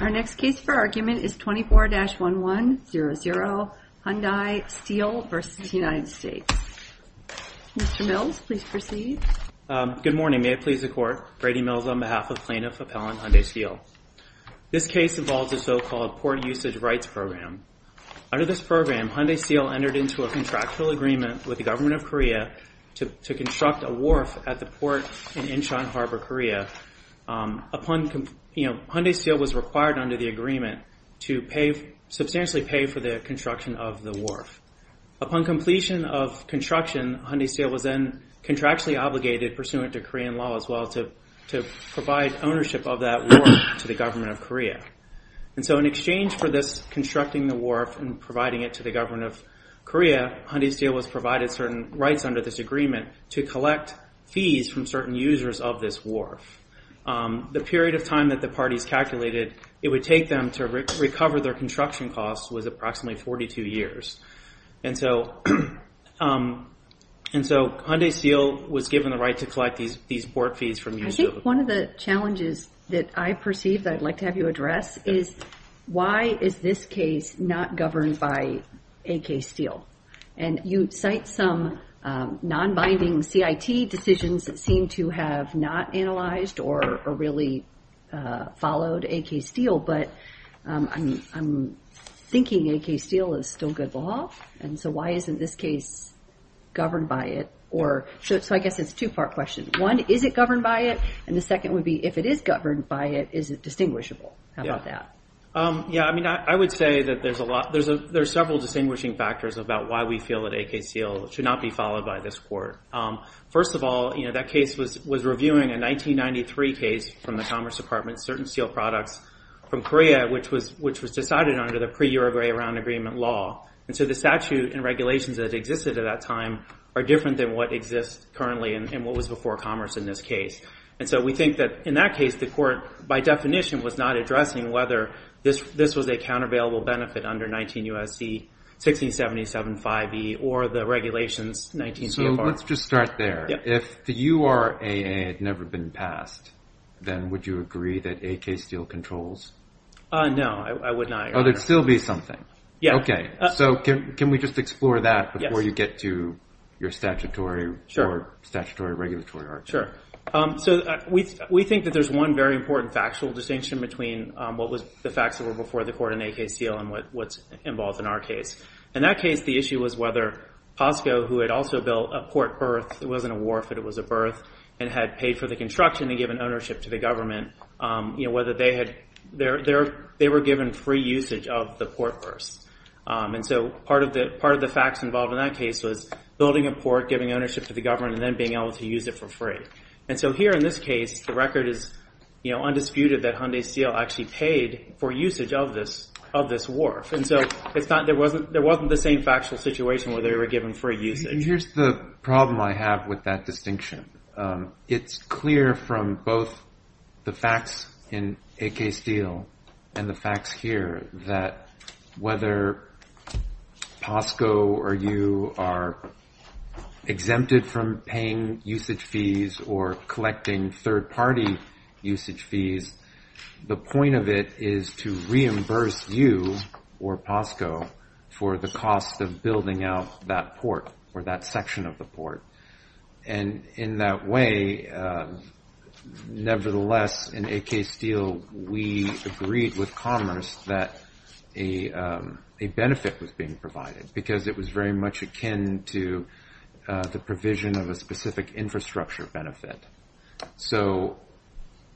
Our next case for argument is 24-1100, Hyundai Steel v. United States. Mr. Mills, please proceed. Good morning. May it please the Court. Brady Mills on behalf of Plaintiff Appellant Hyundai Steel. This case involves a so-called port usage rights program. Under this program, Hyundai Steel entered into a contractual agreement with the Government of Korea to construct a wharf at the port in Inchon Harbor, Korea. Hyundai Steel was required under the agreement to substantially pay for the construction of the wharf. Upon completion of construction, Hyundai Steel was then contractually obligated, pursuant to Korean law as well, to provide ownership of that wharf to the Government of Korea. In exchange for this constructing the wharf and providing it to the Government of Korea, Hyundai Steel was provided certain rights under this agreement to collect fees from certain users of this wharf. The period of time that the parties calculated it would take them to recover their construction costs was approximately 42 years. And so Hyundai Steel was given the right to collect these port fees from users. I think one of the challenges that I perceive that I'd like to have you address is why is this case not governed by AK Steel? And you cite some non-binding CIT decisions that seem to have not analyzed or really followed AK Steel. But I'm thinking AK Steel is still good law. And so why isn't this case governed by it? So I guess it's a two-part question. One, is it governed by it? And the second would be, if it is governed by it, is it distinguishable? How about that? I would say that there's several distinguishing factors about why we feel that AK Steel should not be followed by this court. First of all, that case was reviewing a 1993 case from the Commerce Department, certain steel products from Korea, which was decided under the pre-Uruguay Round Agreement law. And so the statute and regulations that existed at that time are different than what exists currently and what was before Commerce in this case. And so we think that in that case, the court, by definition, was not addressing whether this was a countervailable benefit under 19 U.S.C. 1677-5E or the regulations 19 CFR. So let's just start there. If the URA had never been passed, then would you agree that AK Steel controls? No, I would not agree. Oh, there'd still be something. Yeah. Okay. So can we just explore that before you get to your statutory or statutory regulatory argument? Sure. So we think that there's one very important factual distinction between what was the facts that were before the court in AK Steel and what's involved in our case. In that case, the issue was whether POSCO, who had also built a port berth, it wasn't a wharf, but it was a berth, and had paid for the construction and given ownership to the government, whether they were given free usage of the port berths. And so part of the facts involved in that case was building a port, giving ownership to the government, and then being able to use it for free. And so here in this case, the record is undisputed that Hyundai Steel actually paid for usage of this wharf. And so there wasn't the same factual situation where they were given free usage. And here's the problem I have with that distinction. It's clear from both the facts in AK Steel and the facts here that whether POSCO or you are exempted from paying usage fees or collecting third-party usage fees, the point of it is to reimburse you or POSCO for the cost of building out that port or that section of the port. And in that way, nevertheless, in AK Steel, we agreed with Commerce that a benefit was being provided, because it was very much akin to the provision of a specific infrastructure benefit. So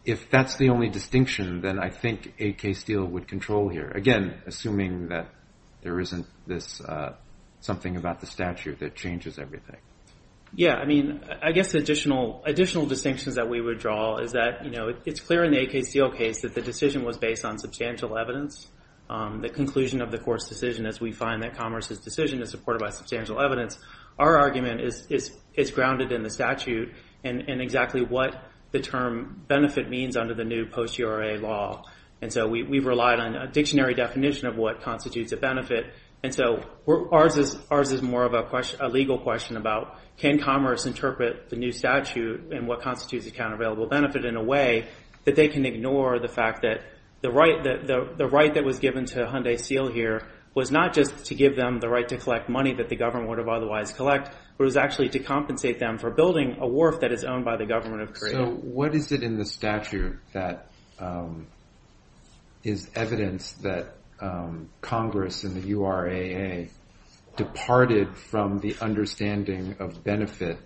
if that's the only distinction, then I think AK Steel would control here. Again, assuming that there isn't something about the statute that changes everything. Yeah, I mean, I guess additional distinctions that we would draw is that, you know, it's clear in the AK Steel case that the decision was based on substantial evidence. The conclusion of the court's decision is we find that Commerce's decision is supported by substantial evidence. Our argument is grounded in the statute and exactly what the term benefit means under the new post-GRA law. And so we've relied on a dictionary definition of what constitutes a benefit. And so ours is more of a legal question about can Commerce interpret the new statute and what constitutes a countervailable benefit in a way that they can ignore the fact that the right that was given to Hyundai Steel here was not just to give them the right to collect money that the government would have otherwise collect, but it was actually to compensate them for building a wharf that is owned by the government of Korea. So what is it in the statute that is evidence that Congress and the URAA departed from the understanding of benefit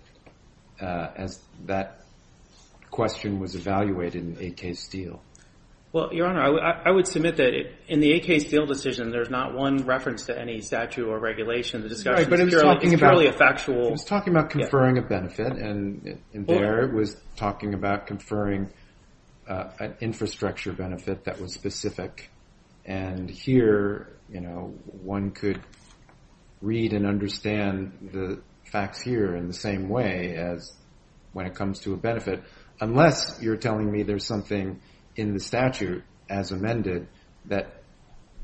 as that question was evaluated in the AK Steel? Well, Your Honor, I would submit that in the AK Steel decision, there's not one reference to any statute or regulation. The discussion is purely factual. It was talking about conferring a benefit and there it was talking about conferring an infrastructure benefit that was specific. And here, you know, one could read and understand the facts here in the same way as when it comes to a benefit, unless you're telling me there's something in the statute as amended that,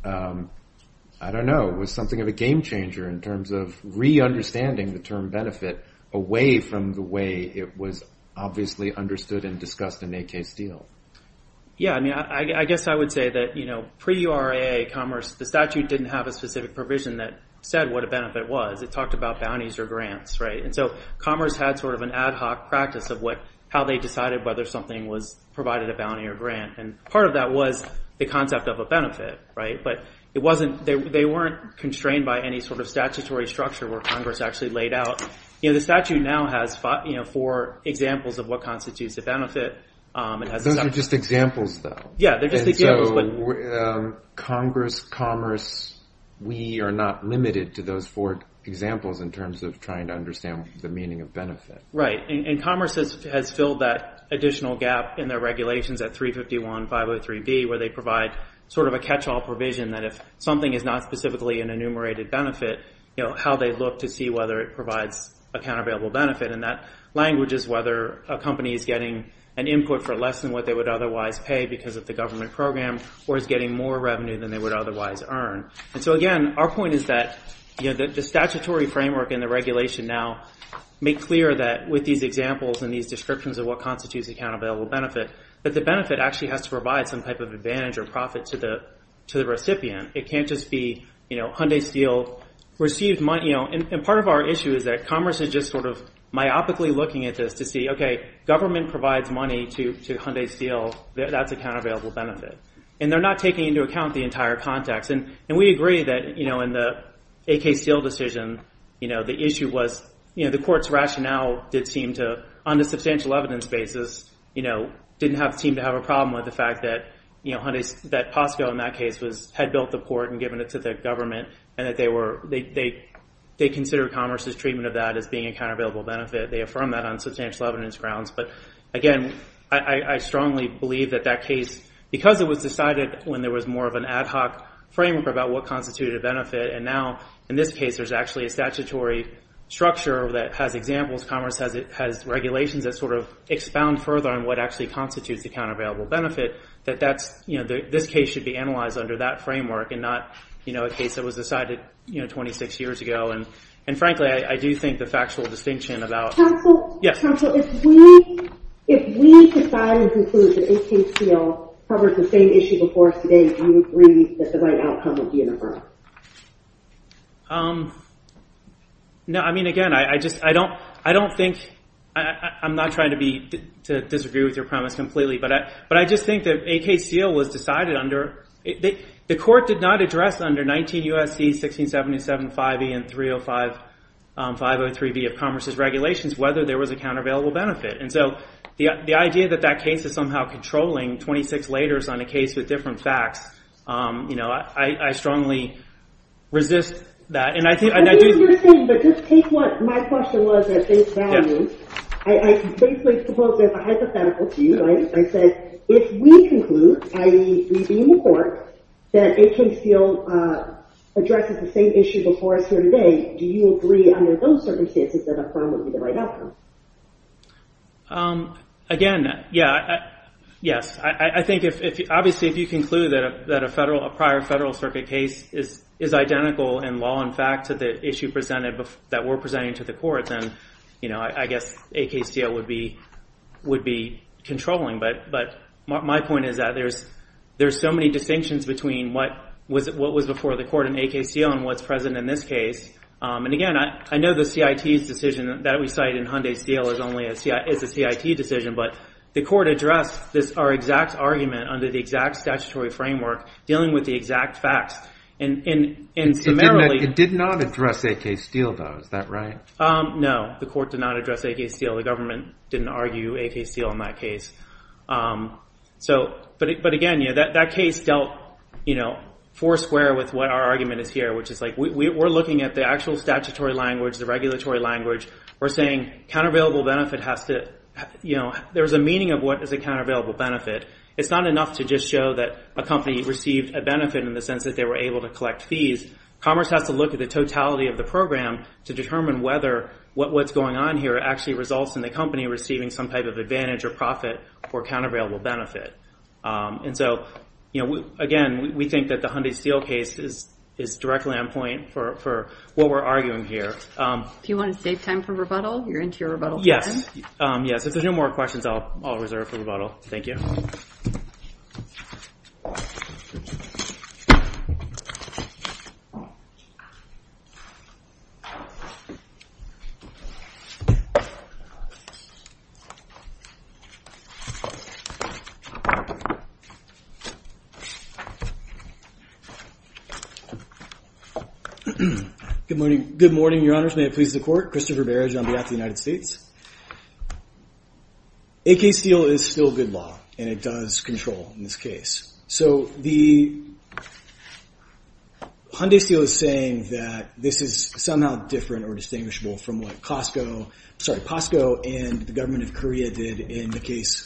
I don't know, was something of a game changer in terms of re-understanding the term benefit away from the way it was obviously understood and discussed in AK Steel. Yeah, I mean, I guess I would say that, you know, pre-URAA Commerce, the statute didn't have a specific provision that said what a benefit was. It talked about bounties or grants, right? And so Commerce had sort of an ad hoc practice of how they decided whether something was provided a bounty or grant. And part of that was the concept of a benefit, right? But they weren't constrained by any sort of statutory structure where Congress actually laid out. You know, the statute now has four examples of what constitutes a benefit. Those are just examples, though. Yeah, they're just examples. And so Congress, Commerce, we are not limited to those four examples in terms of trying to understand the meaning of benefit. Right, and Commerce has filled that additional gap in their regulations at 351.503B where they provide sort of a catch-all provision that if something is not specifically an enumerated benefit, you know, how they look to see whether it provides a countervailable benefit. And that language is whether a company is getting an input for less than what they would otherwise pay because of the government program or is getting more revenue than they would otherwise earn. And so again, our point is that the statutory framework and the regulation now make clear that with these examples and these descriptions of what constitutes a countervailable benefit, that the benefit actually has to provide some type of advantage or profit to the recipient. It can't just be, you know, Hyundai Steel received money. And part of our issue is that Commerce is just sort of myopically looking at this to see, okay, government provides money to Hyundai Steel. That's a countervailable benefit. And they're not taking into account the entire context. And we agree that, you know, in the AK Steel decision, you know, the issue was, you know, the court's rationale did seem to, on a substantial evidence basis, you know, didn't seem to have a problem with the fact that, you know, Hyundai, that POSCO in that case had built the port and given it to the government and that they were, they considered Commerce's treatment of that as being a countervailable benefit. They affirmed that on substantial evidence grounds. But, again, I strongly believe that that case, because it was decided when there was more of an ad hoc framework about what constituted a benefit and now, in this case, there's actually a statutory structure that has examples, Commerce has regulations that sort of expound further on what actually constitutes a countervailable benefit, that that's, you know, this case should be analyzed under that framework and not, you know, a case that was decided, you know, 26 years ago. And, frankly, I do think the factual distinction about. Counsel? Yes. Counsel, if we, if we decide and conclude that AKCL covers the same issue before us today, do you agree that the right outcome would be an affirmative? No, I mean, again, I just, I don't, I don't think, I'm not trying to be, to disagree with your premise completely, but I just think that AKCL was decided under, the court did not address under 19 U.S.C. 1677-5E and 305, 503B of Commerce's regulations, whether there was a countervailable benefit. And so, the idea that that case is somehow controlling 26 laters on a case with different facts, you know, I strongly resist that. And I think, and I do. What you're saying, but just take what my question was at face value. I basically suppose there's a hypothetical to you, right? I said, if we conclude, i.e., we be in the court, that AKCL addresses the same issue before us here today, do you agree under those circumstances that a firm would be the right outcome? Again, yeah, yes. I think if, obviously, if you conclude that a federal, a prior federal circuit case is identical in law and fact to the issue presented, that we're presenting to the court, then, you know, I guess AKCL would be controlling. But my point is that there's so many distinctions between what was before the court in AKCL and what's present in this case. And again, I know the CIT's decision that we cite in Hyundai Steel is only a CIT decision, but the court addressed our exact argument under the exact statutory framework, dealing with the exact facts. It did not address AK Steel, though. Is that right? No, the court did not address AK Steel. The government didn't argue AK Steel in that case. So, but again, that case dealt, you know, foursquare with what our argument is here, which is like we're looking at the actual statutory language, the regulatory language. We're saying countervailable benefit has to, you know, there's a meaning of what is a countervailable benefit. It's not enough to just show that a company received a benefit in the sense that they were able to collect fees. Commerce has to look at the totality of the program to determine whether what's going on here actually results in the company receiving some type of advantage or profit or countervailable benefit. And so, you know, again, we think that the Hyundai Steel case is directly on point for what we're arguing here. Do you want to save time for rebuttal? You're into your rebuttal time? Yes, yes. If there's no more questions, I'll reserve for rebuttal. Thank you. Good morning. Good morning, Your Honors. May it please the court. Christopher Barrage on behalf of the United States. AK Steel is still good law, and it does control in this case. So the Hyundai Steel is saying that this is somehow different or distinguishable from what Costco, sorry, Costco and the government of Korea did in the case,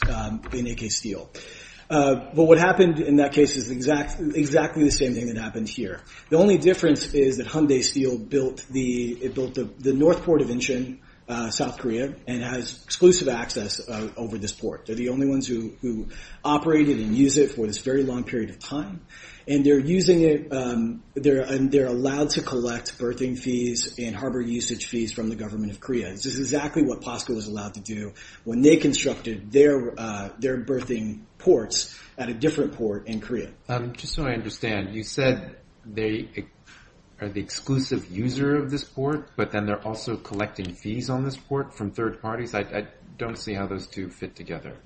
in AK Steel. But what happened in that case is exactly the same thing that happened here. The only difference is that Hyundai Steel built the, it built the North Port of Incheon, South Korea, and has exclusive access over this port. They're the only ones who operate it and use it for this very long period of time. And they're using it, they're allowed to collect berthing fees and harbor usage fees from the government of Korea. This is exactly what Costco was allowed to do when they constructed their berthing ports at a different port in Korea. Just so I understand, you said they are the exclusive user of this port, but then they're also collecting fees on this port from third parties. I don't see how those two fit together.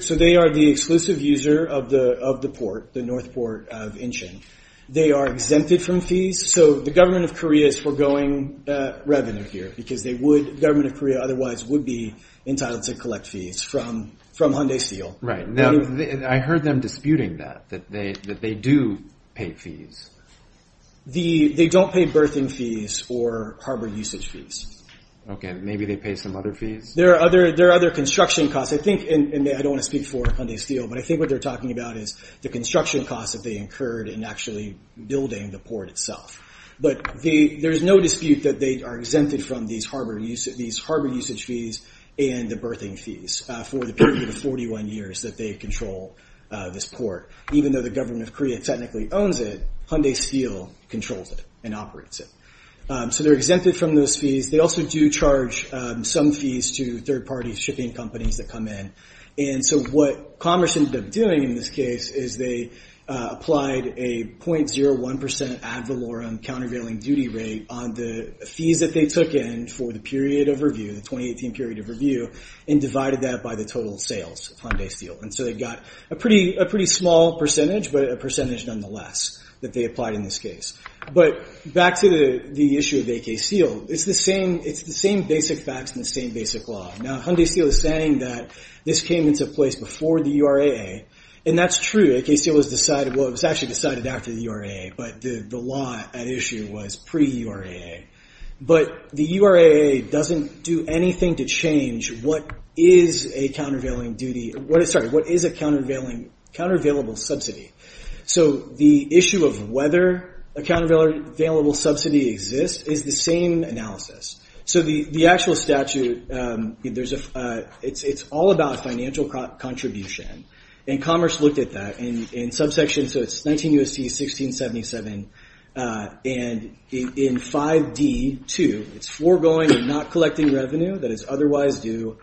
So they are the exclusive user of the port, the North Port of Incheon. They are exempted from fees. So the government of Korea is foregoing revenue here because they would, the government of Korea otherwise would be entitled to collect fees from Hyundai Steel. Right. Now, I heard them disputing that, that they do pay fees. They don't pay berthing fees or harbor usage fees. Okay. Maybe they pay some other fees? There are other construction costs. I think, and I don't want to speak for Hyundai Steel, but I think what they're talking about is the construction costs that they incurred in actually building the port itself. But there's no dispute that they are exempted from these harbor usage fees and the berthing fees for the period of 41 years that they control this port. Even though the government of Korea technically owns it, Hyundai Steel controls it and operates it. So they're exempted from those fees. They also do charge some fees to third-party shipping companies that come in. And so what Commerce ended up doing in this case is they applied a 0.01% ad valorem countervailing duty rate on the fees that they took in for the period of review, the 2018 period of review, and divided that by the total sales of Hyundai Steel. And so they got a pretty small percentage, but a percentage nonetheless that they applied in this case. But back to the issue of AK Steel. It's the same basic facts and the same basic law. Now, Hyundai Steel is saying that this came into place before the URAA, and that's true. AK Steel was actually decided after the URAA, but the law at issue was pre-URAA. But the URAA doesn't do anything to change what is a countervailing subsidy. So the issue of whether a countervailable subsidy exists is the same analysis. So the actual statute, it's all about financial contribution. And Commerce looked at that in subsection, so it's 19 U.S.C. 1677. And in 5D2, it's foregoing or not collecting revenue that is otherwise due,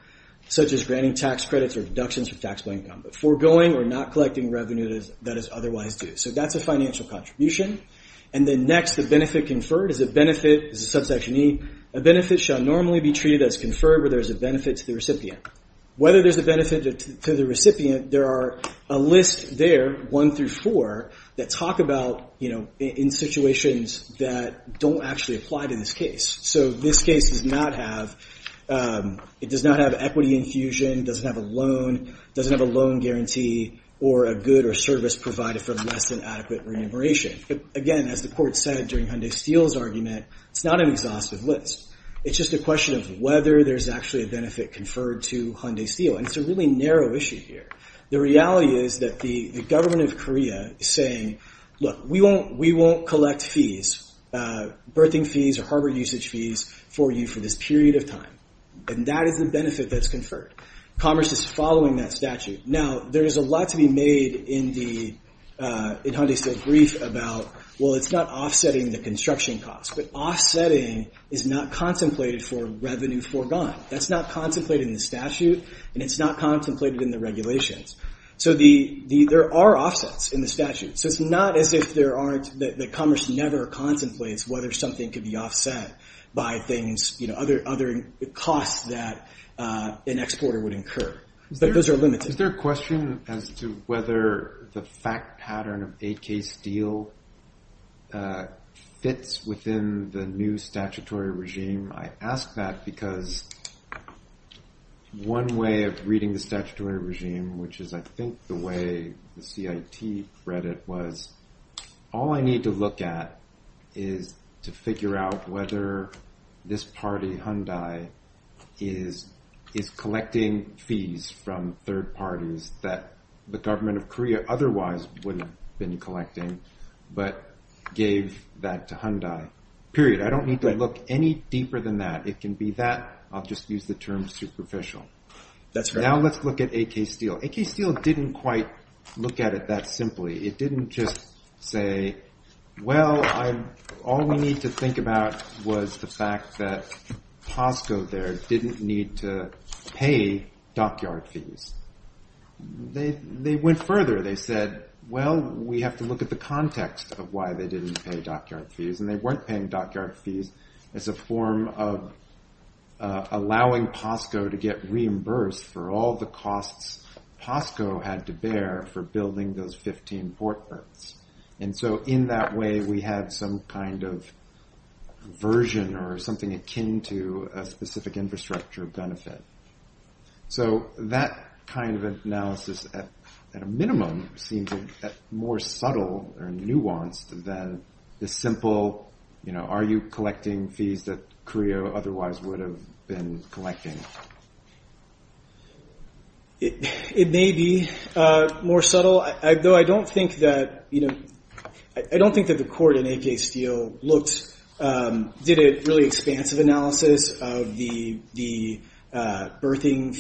such as granting tax credits or deductions for taxable income. Foregoing or not collecting revenue that is otherwise due. So that's a financial contribution. And then next, the benefit conferred is a benefit, is a subsection E. A benefit shall normally be treated as conferred where there's a benefit to the recipient. Whether there's a benefit to the recipient, there are a list there, one through four, that talk about in situations that don't actually apply to this case. So this case does not have equity infusion, doesn't have a loan guarantee, or a good or service provided for less than adequate remuneration. Again, as the court said during Hyundai Steel's argument, it's not an exhaustive list. It's just a question of whether there's actually a benefit conferred to Hyundai Steel. And it's a really narrow issue here. The reality is that the government of Korea is saying, look, we won't collect fees, birthing fees or harbor usage fees for you for this period of time. And that is the benefit that's conferred. Commerce is following that statute. Now, there is a lot to be made in Hyundai Steel's brief about, well, it's not offsetting the construction costs, but offsetting is not contemplated for revenue foregone. That's not contemplated in the statute, and it's not contemplated in the regulations. So there are offsets in the statute. So it's not as if there aren't, that commerce never contemplates whether something could be offset by things, other costs that an exporter would incur. But those are limited. Is there a question as to whether the fact pattern of 8K Steel fits within the new statutory regime? I ask that because one way of reading the statutory regime, which is, I think, the way the CIT read it was, all I need to look at is to figure out whether this party, Hyundai, is collecting fees from third parties that the government of Korea otherwise wouldn't have been collecting, but gave that to Hyundai, period. I don't need to look any deeper than that. It can be that. I'll just use the term superficial. Now let's look at 8K Steel. 8K Steel didn't quite look at it that simply. It didn't just say, well, all we need to think about was the fact that Costco there didn't need to pay dockyard fees. They went further. They said, well, we have to look at the context of why they didn't pay dockyard fees, and they weren't paying dockyard fees as a form of allowing Costco to get reimbursed for all the costs Costco had to bear for building those 15 ports. And so in that way, we had some kind of version or something akin to a specific infrastructure benefit. So that kind of analysis, at a minimum, seems more subtle or nuanced than the simple, are you collecting fees that Korea otherwise would have been collecting? It may be more subtle, though I don't think that the court in 8K Steel looked, did a really expansive analysis of the birthing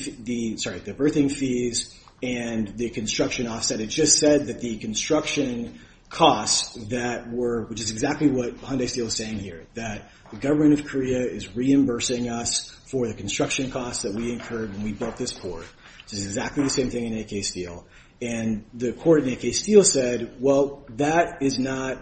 fees and the construction offset. It just said that the construction costs that were, which is exactly what Hyundai Steel is saying here, that the government of Korea is reimbursing us for the construction costs that we incurred when we built this port. This is exactly the same thing in 8K Steel. And the court in 8K Steel said, well, that is not,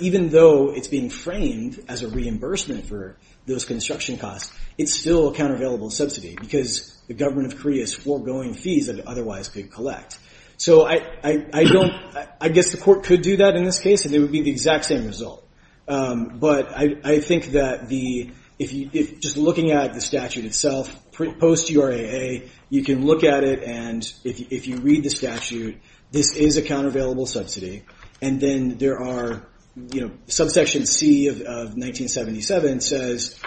even though it's being framed as a reimbursement for those construction costs, it's still a countervailable subsidy because the government of Korea is foregoing fees that it otherwise could collect. So I don't, I guess the court could do that in this case, and it would be the exact same result. But I think that the, if you, just looking at the statute itself, post URAA, you can look at it, and if you read the statute, this is a countervailable subsidy. And then there are, you know, subsection C of 1977 says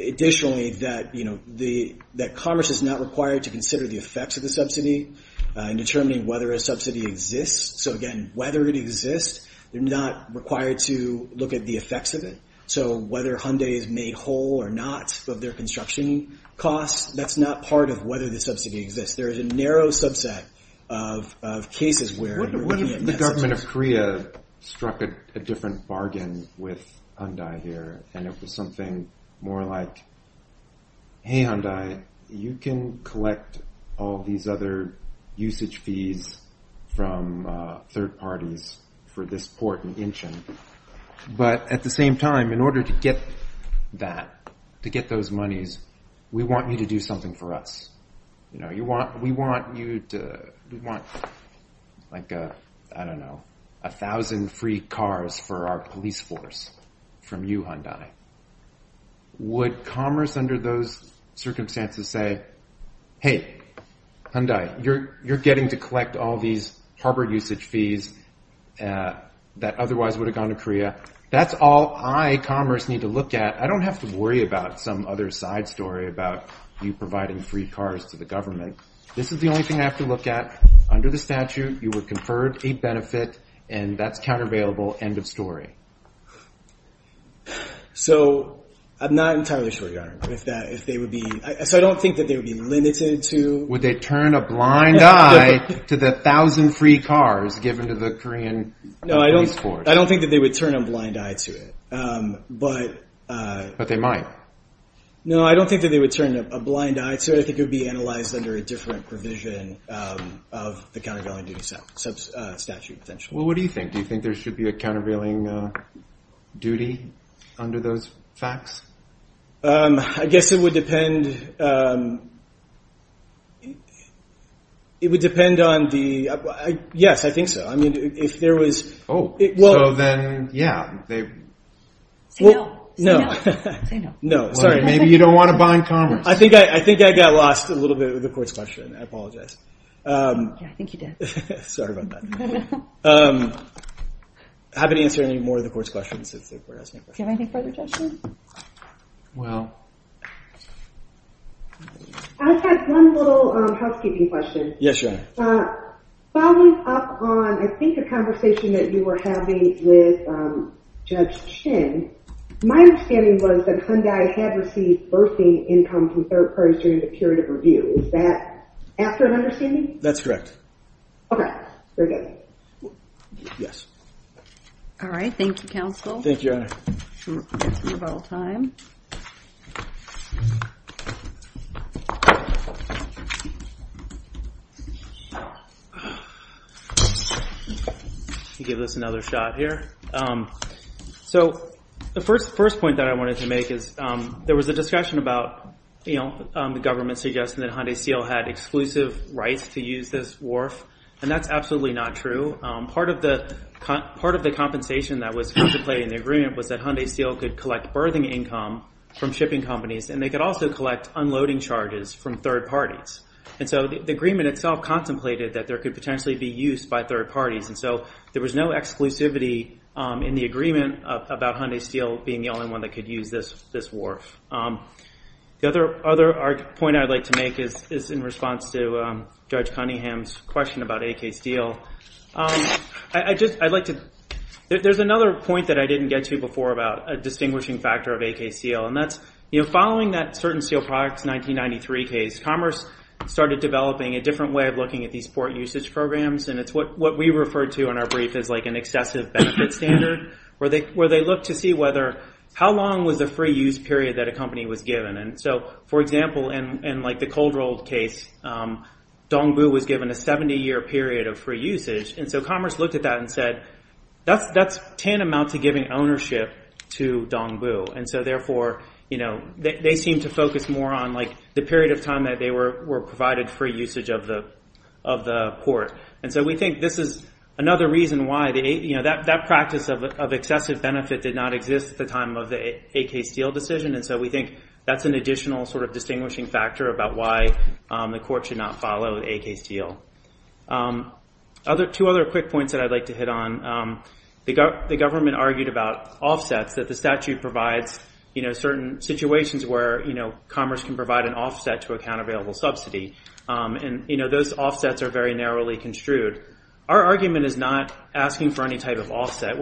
additionally that, you know, that commerce is not required to consider the effects of the subsidy in determining whether a subsidy exists. So again, whether it exists, they're not required to look at the effects of it. So whether Hyundai has made whole or not of their construction costs, that's not part of whether the subsidy exists. There is a narrow subset of cases where you're looking at that subsidy. What if the government of Korea struck a different bargain with Hyundai here, and it was something more like, hey, Hyundai, you can collect all these other usage fees from third parties for this port in Incheon. But at the same time, in order to get that, to get those monies, we want you to do something for us. You know, we want, like, I don't know, a thousand free cars for our police force from you, Hyundai. Would commerce under those circumstances say, hey, Hyundai, you're getting to collect all these harbor usage fees that otherwise would have gone to Korea? That's all I, commerce, need to look at. I don't have to worry about some other side story about you providing free cars to the government. This is the only thing I have to look at. Under the statute, you would confer a benefit, and that's countervailable, end of story. So I'm not entirely sure, Your Honor, if that, if they would be, so I don't think that they would be limited to. Would they turn a blind eye to the thousand free cars given to the Korean police force? No, I don't think that they would turn a blind eye to it. But they might. No, I don't think that they would turn a blind eye to it. I think it would be analyzed under a different provision of the countervailing duty statute, potentially. Well, what do you think? Do you think there should be a countervailing duty under those facts? I guess it would depend, it would depend on the, yes, I think so. Oh, so then, yeah. Say no, say no, say no. No, sorry. Maybe you don't want to buy in commerce. I think I got lost a little bit with the court's question. I apologize. Yeah, I think you did. Sorry about that. I haven't answered any more of the court's questions since the court asked me a question. Do you have any further questions? Well. I just have one little housekeeping question. Yes, Your Honor. Following up on, I think, a conversation that you were having with Judge Chin, my understanding was that Hyundai had received bursary income from third parties during the period of review. Is that after an understanding? That's correct. Okay, very good. Yes. All right, thank you, counsel. Thank you, Your Honor. We're about out of time. Let me give this another shot here. So the first point that I wanted to make is there was a discussion about, you know, the government suggesting that Hyundai Steel had exclusive rights to use this wharf, and that's absolutely not true. Part of the compensation that was contemplated in the agreement was that Hyundai Steel could collect birthing income from shipping companies, and they could also collect unloading charges from third parties. And so the agreement itself contemplated that there could potentially be use by third parties, and so there was no exclusivity in the agreement about Hyundai Steel being the only one that could use this wharf. The other point I'd like to make is in response to Judge Cunningham's question about AK Steel. There's another point that I didn't get to before about a distinguishing factor of AK Steel, and that's, you know, following that Certain Steel Products 1993 case, Commerce started developing a different way of looking at these port usage programs, and it's what we referred to in our brief as, like, an excessive benefit standard, where they looked to see how long was the free use period that a company was given. And so, for example, in, like, the Coldrolled case, Dongbu was given a 70-year period of free usage, and so Commerce looked at that and said, that's tantamount to giving ownership to Dongbu. And so, therefore, you know, they seemed to focus more on, like, the period of time that they were provided free usage of the port. And so we think this is another reason why, you know, that practice of excessive benefit did not exist at the time of the AK Steel decision, and so we think that's an additional sort of distinguishing factor about why the court should not follow AK Steel. Two other quick points that I'd like to hit on. The government argued about offsets, that the statute provides, you know, certain situations where, you know, Commerce can provide an offset to a countervailable subsidy. And, you know, those offsets are very narrowly construed. Our argument is not asking for any type of offset.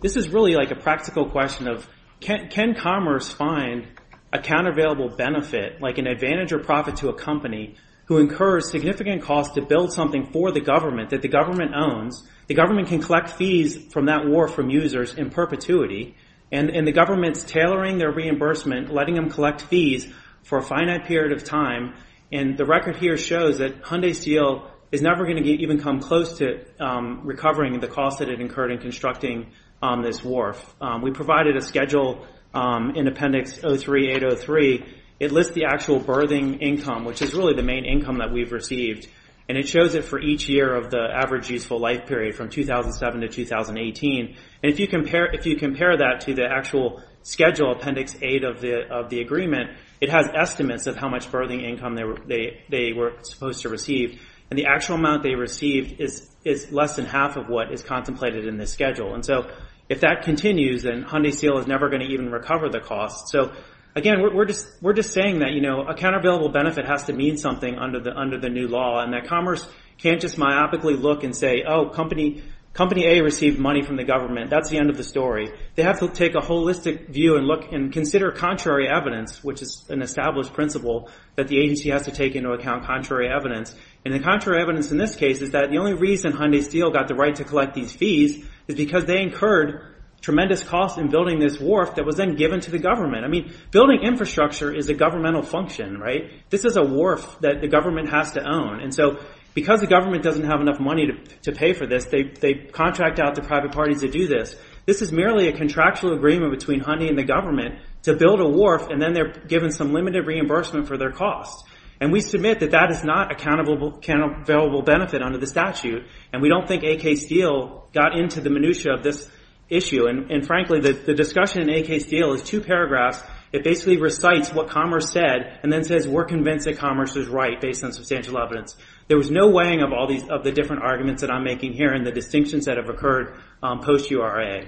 This is really, like, a practical question of, can Commerce find a countervailable benefit, like an advantage or profit to a company, who incurs significant costs to build something for the government that the government owns, the government can collect fees from that wharf from users in perpetuity, and the government's tailoring their reimbursement, letting them collect fees for a finite period of time, and the record here shows that Hyundai Steel is never going to even come close to recovering the costs that it incurred in constructing this wharf. We provided a schedule in Appendix 03803. It lists the actual birthing income, which is really the main income that we've received, and it shows it for each year of the average useful life period from 2007 to 2018. And if you compare that to the actual schedule, Appendix 8 of the agreement, it has estimates of how much birthing income they were supposed to receive, and the actual amount they received is less than half of what is contemplated in this schedule. And so if that continues, then Hyundai Steel is never going to even recover the costs. So, again, we're just saying that, you know, and that commerce can't just myopically look and say, oh, Company A received money from the government. That's the end of the story. They have to take a holistic view and consider contrary evidence, which is an established principle that the agency has to take into account contrary evidence. And the contrary evidence in this case is that the only reason Hyundai Steel got the right to collect these fees is because they incurred tremendous costs in building this wharf that was then given to the government. I mean, building infrastructure is a governmental function, right? This is a wharf that the government has to own. And so because the government doesn't have enough money to pay for this, they contract out the private parties to do this. This is merely a contractual agreement between Hyundai and the government to build a wharf, and then they're given some limited reimbursement for their costs. And we submit that that is not a countable benefit under the statute, and we don't think AK Steel got into the minutia of this issue. And, frankly, the discussion in AK Steel is two paragraphs. It basically recites what Commerce said and then says, we're convinced that Commerce is right based on substantial evidence. There was no weighing of all the different arguments that I'm making here and the distinctions that have occurred post-URA.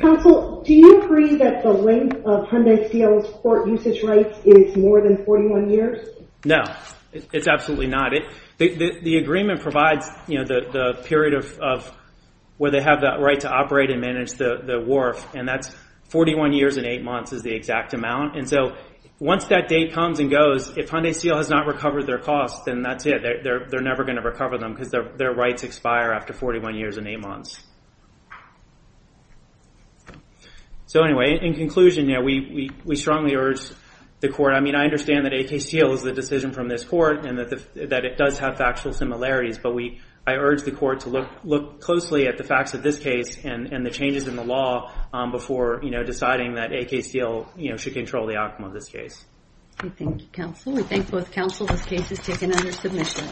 Counsel, do you agree that the length of Hyundai Steel's court usage rights is more than 41 years? No, it's absolutely not. The agreement provides the period where they have that right to operate and manage the wharf, and that's 41 years and 8 months is the exact amount. And so once that date comes and goes, if Hyundai Steel has not recovered their costs, then that's it. They're never going to recover them because their rights expire after 41 years and 8 months. So anyway, in conclusion, we strongly urge the court. I mean, I understand that AK Steel is the decision from this court and that it does have factual similarities, but I urge the court to look closely at the facts of this case and the changes in the law before deciding that AK Steel should control the outcome of this case. Thank you, counsel. We thank both counsel. This case is taken under submission.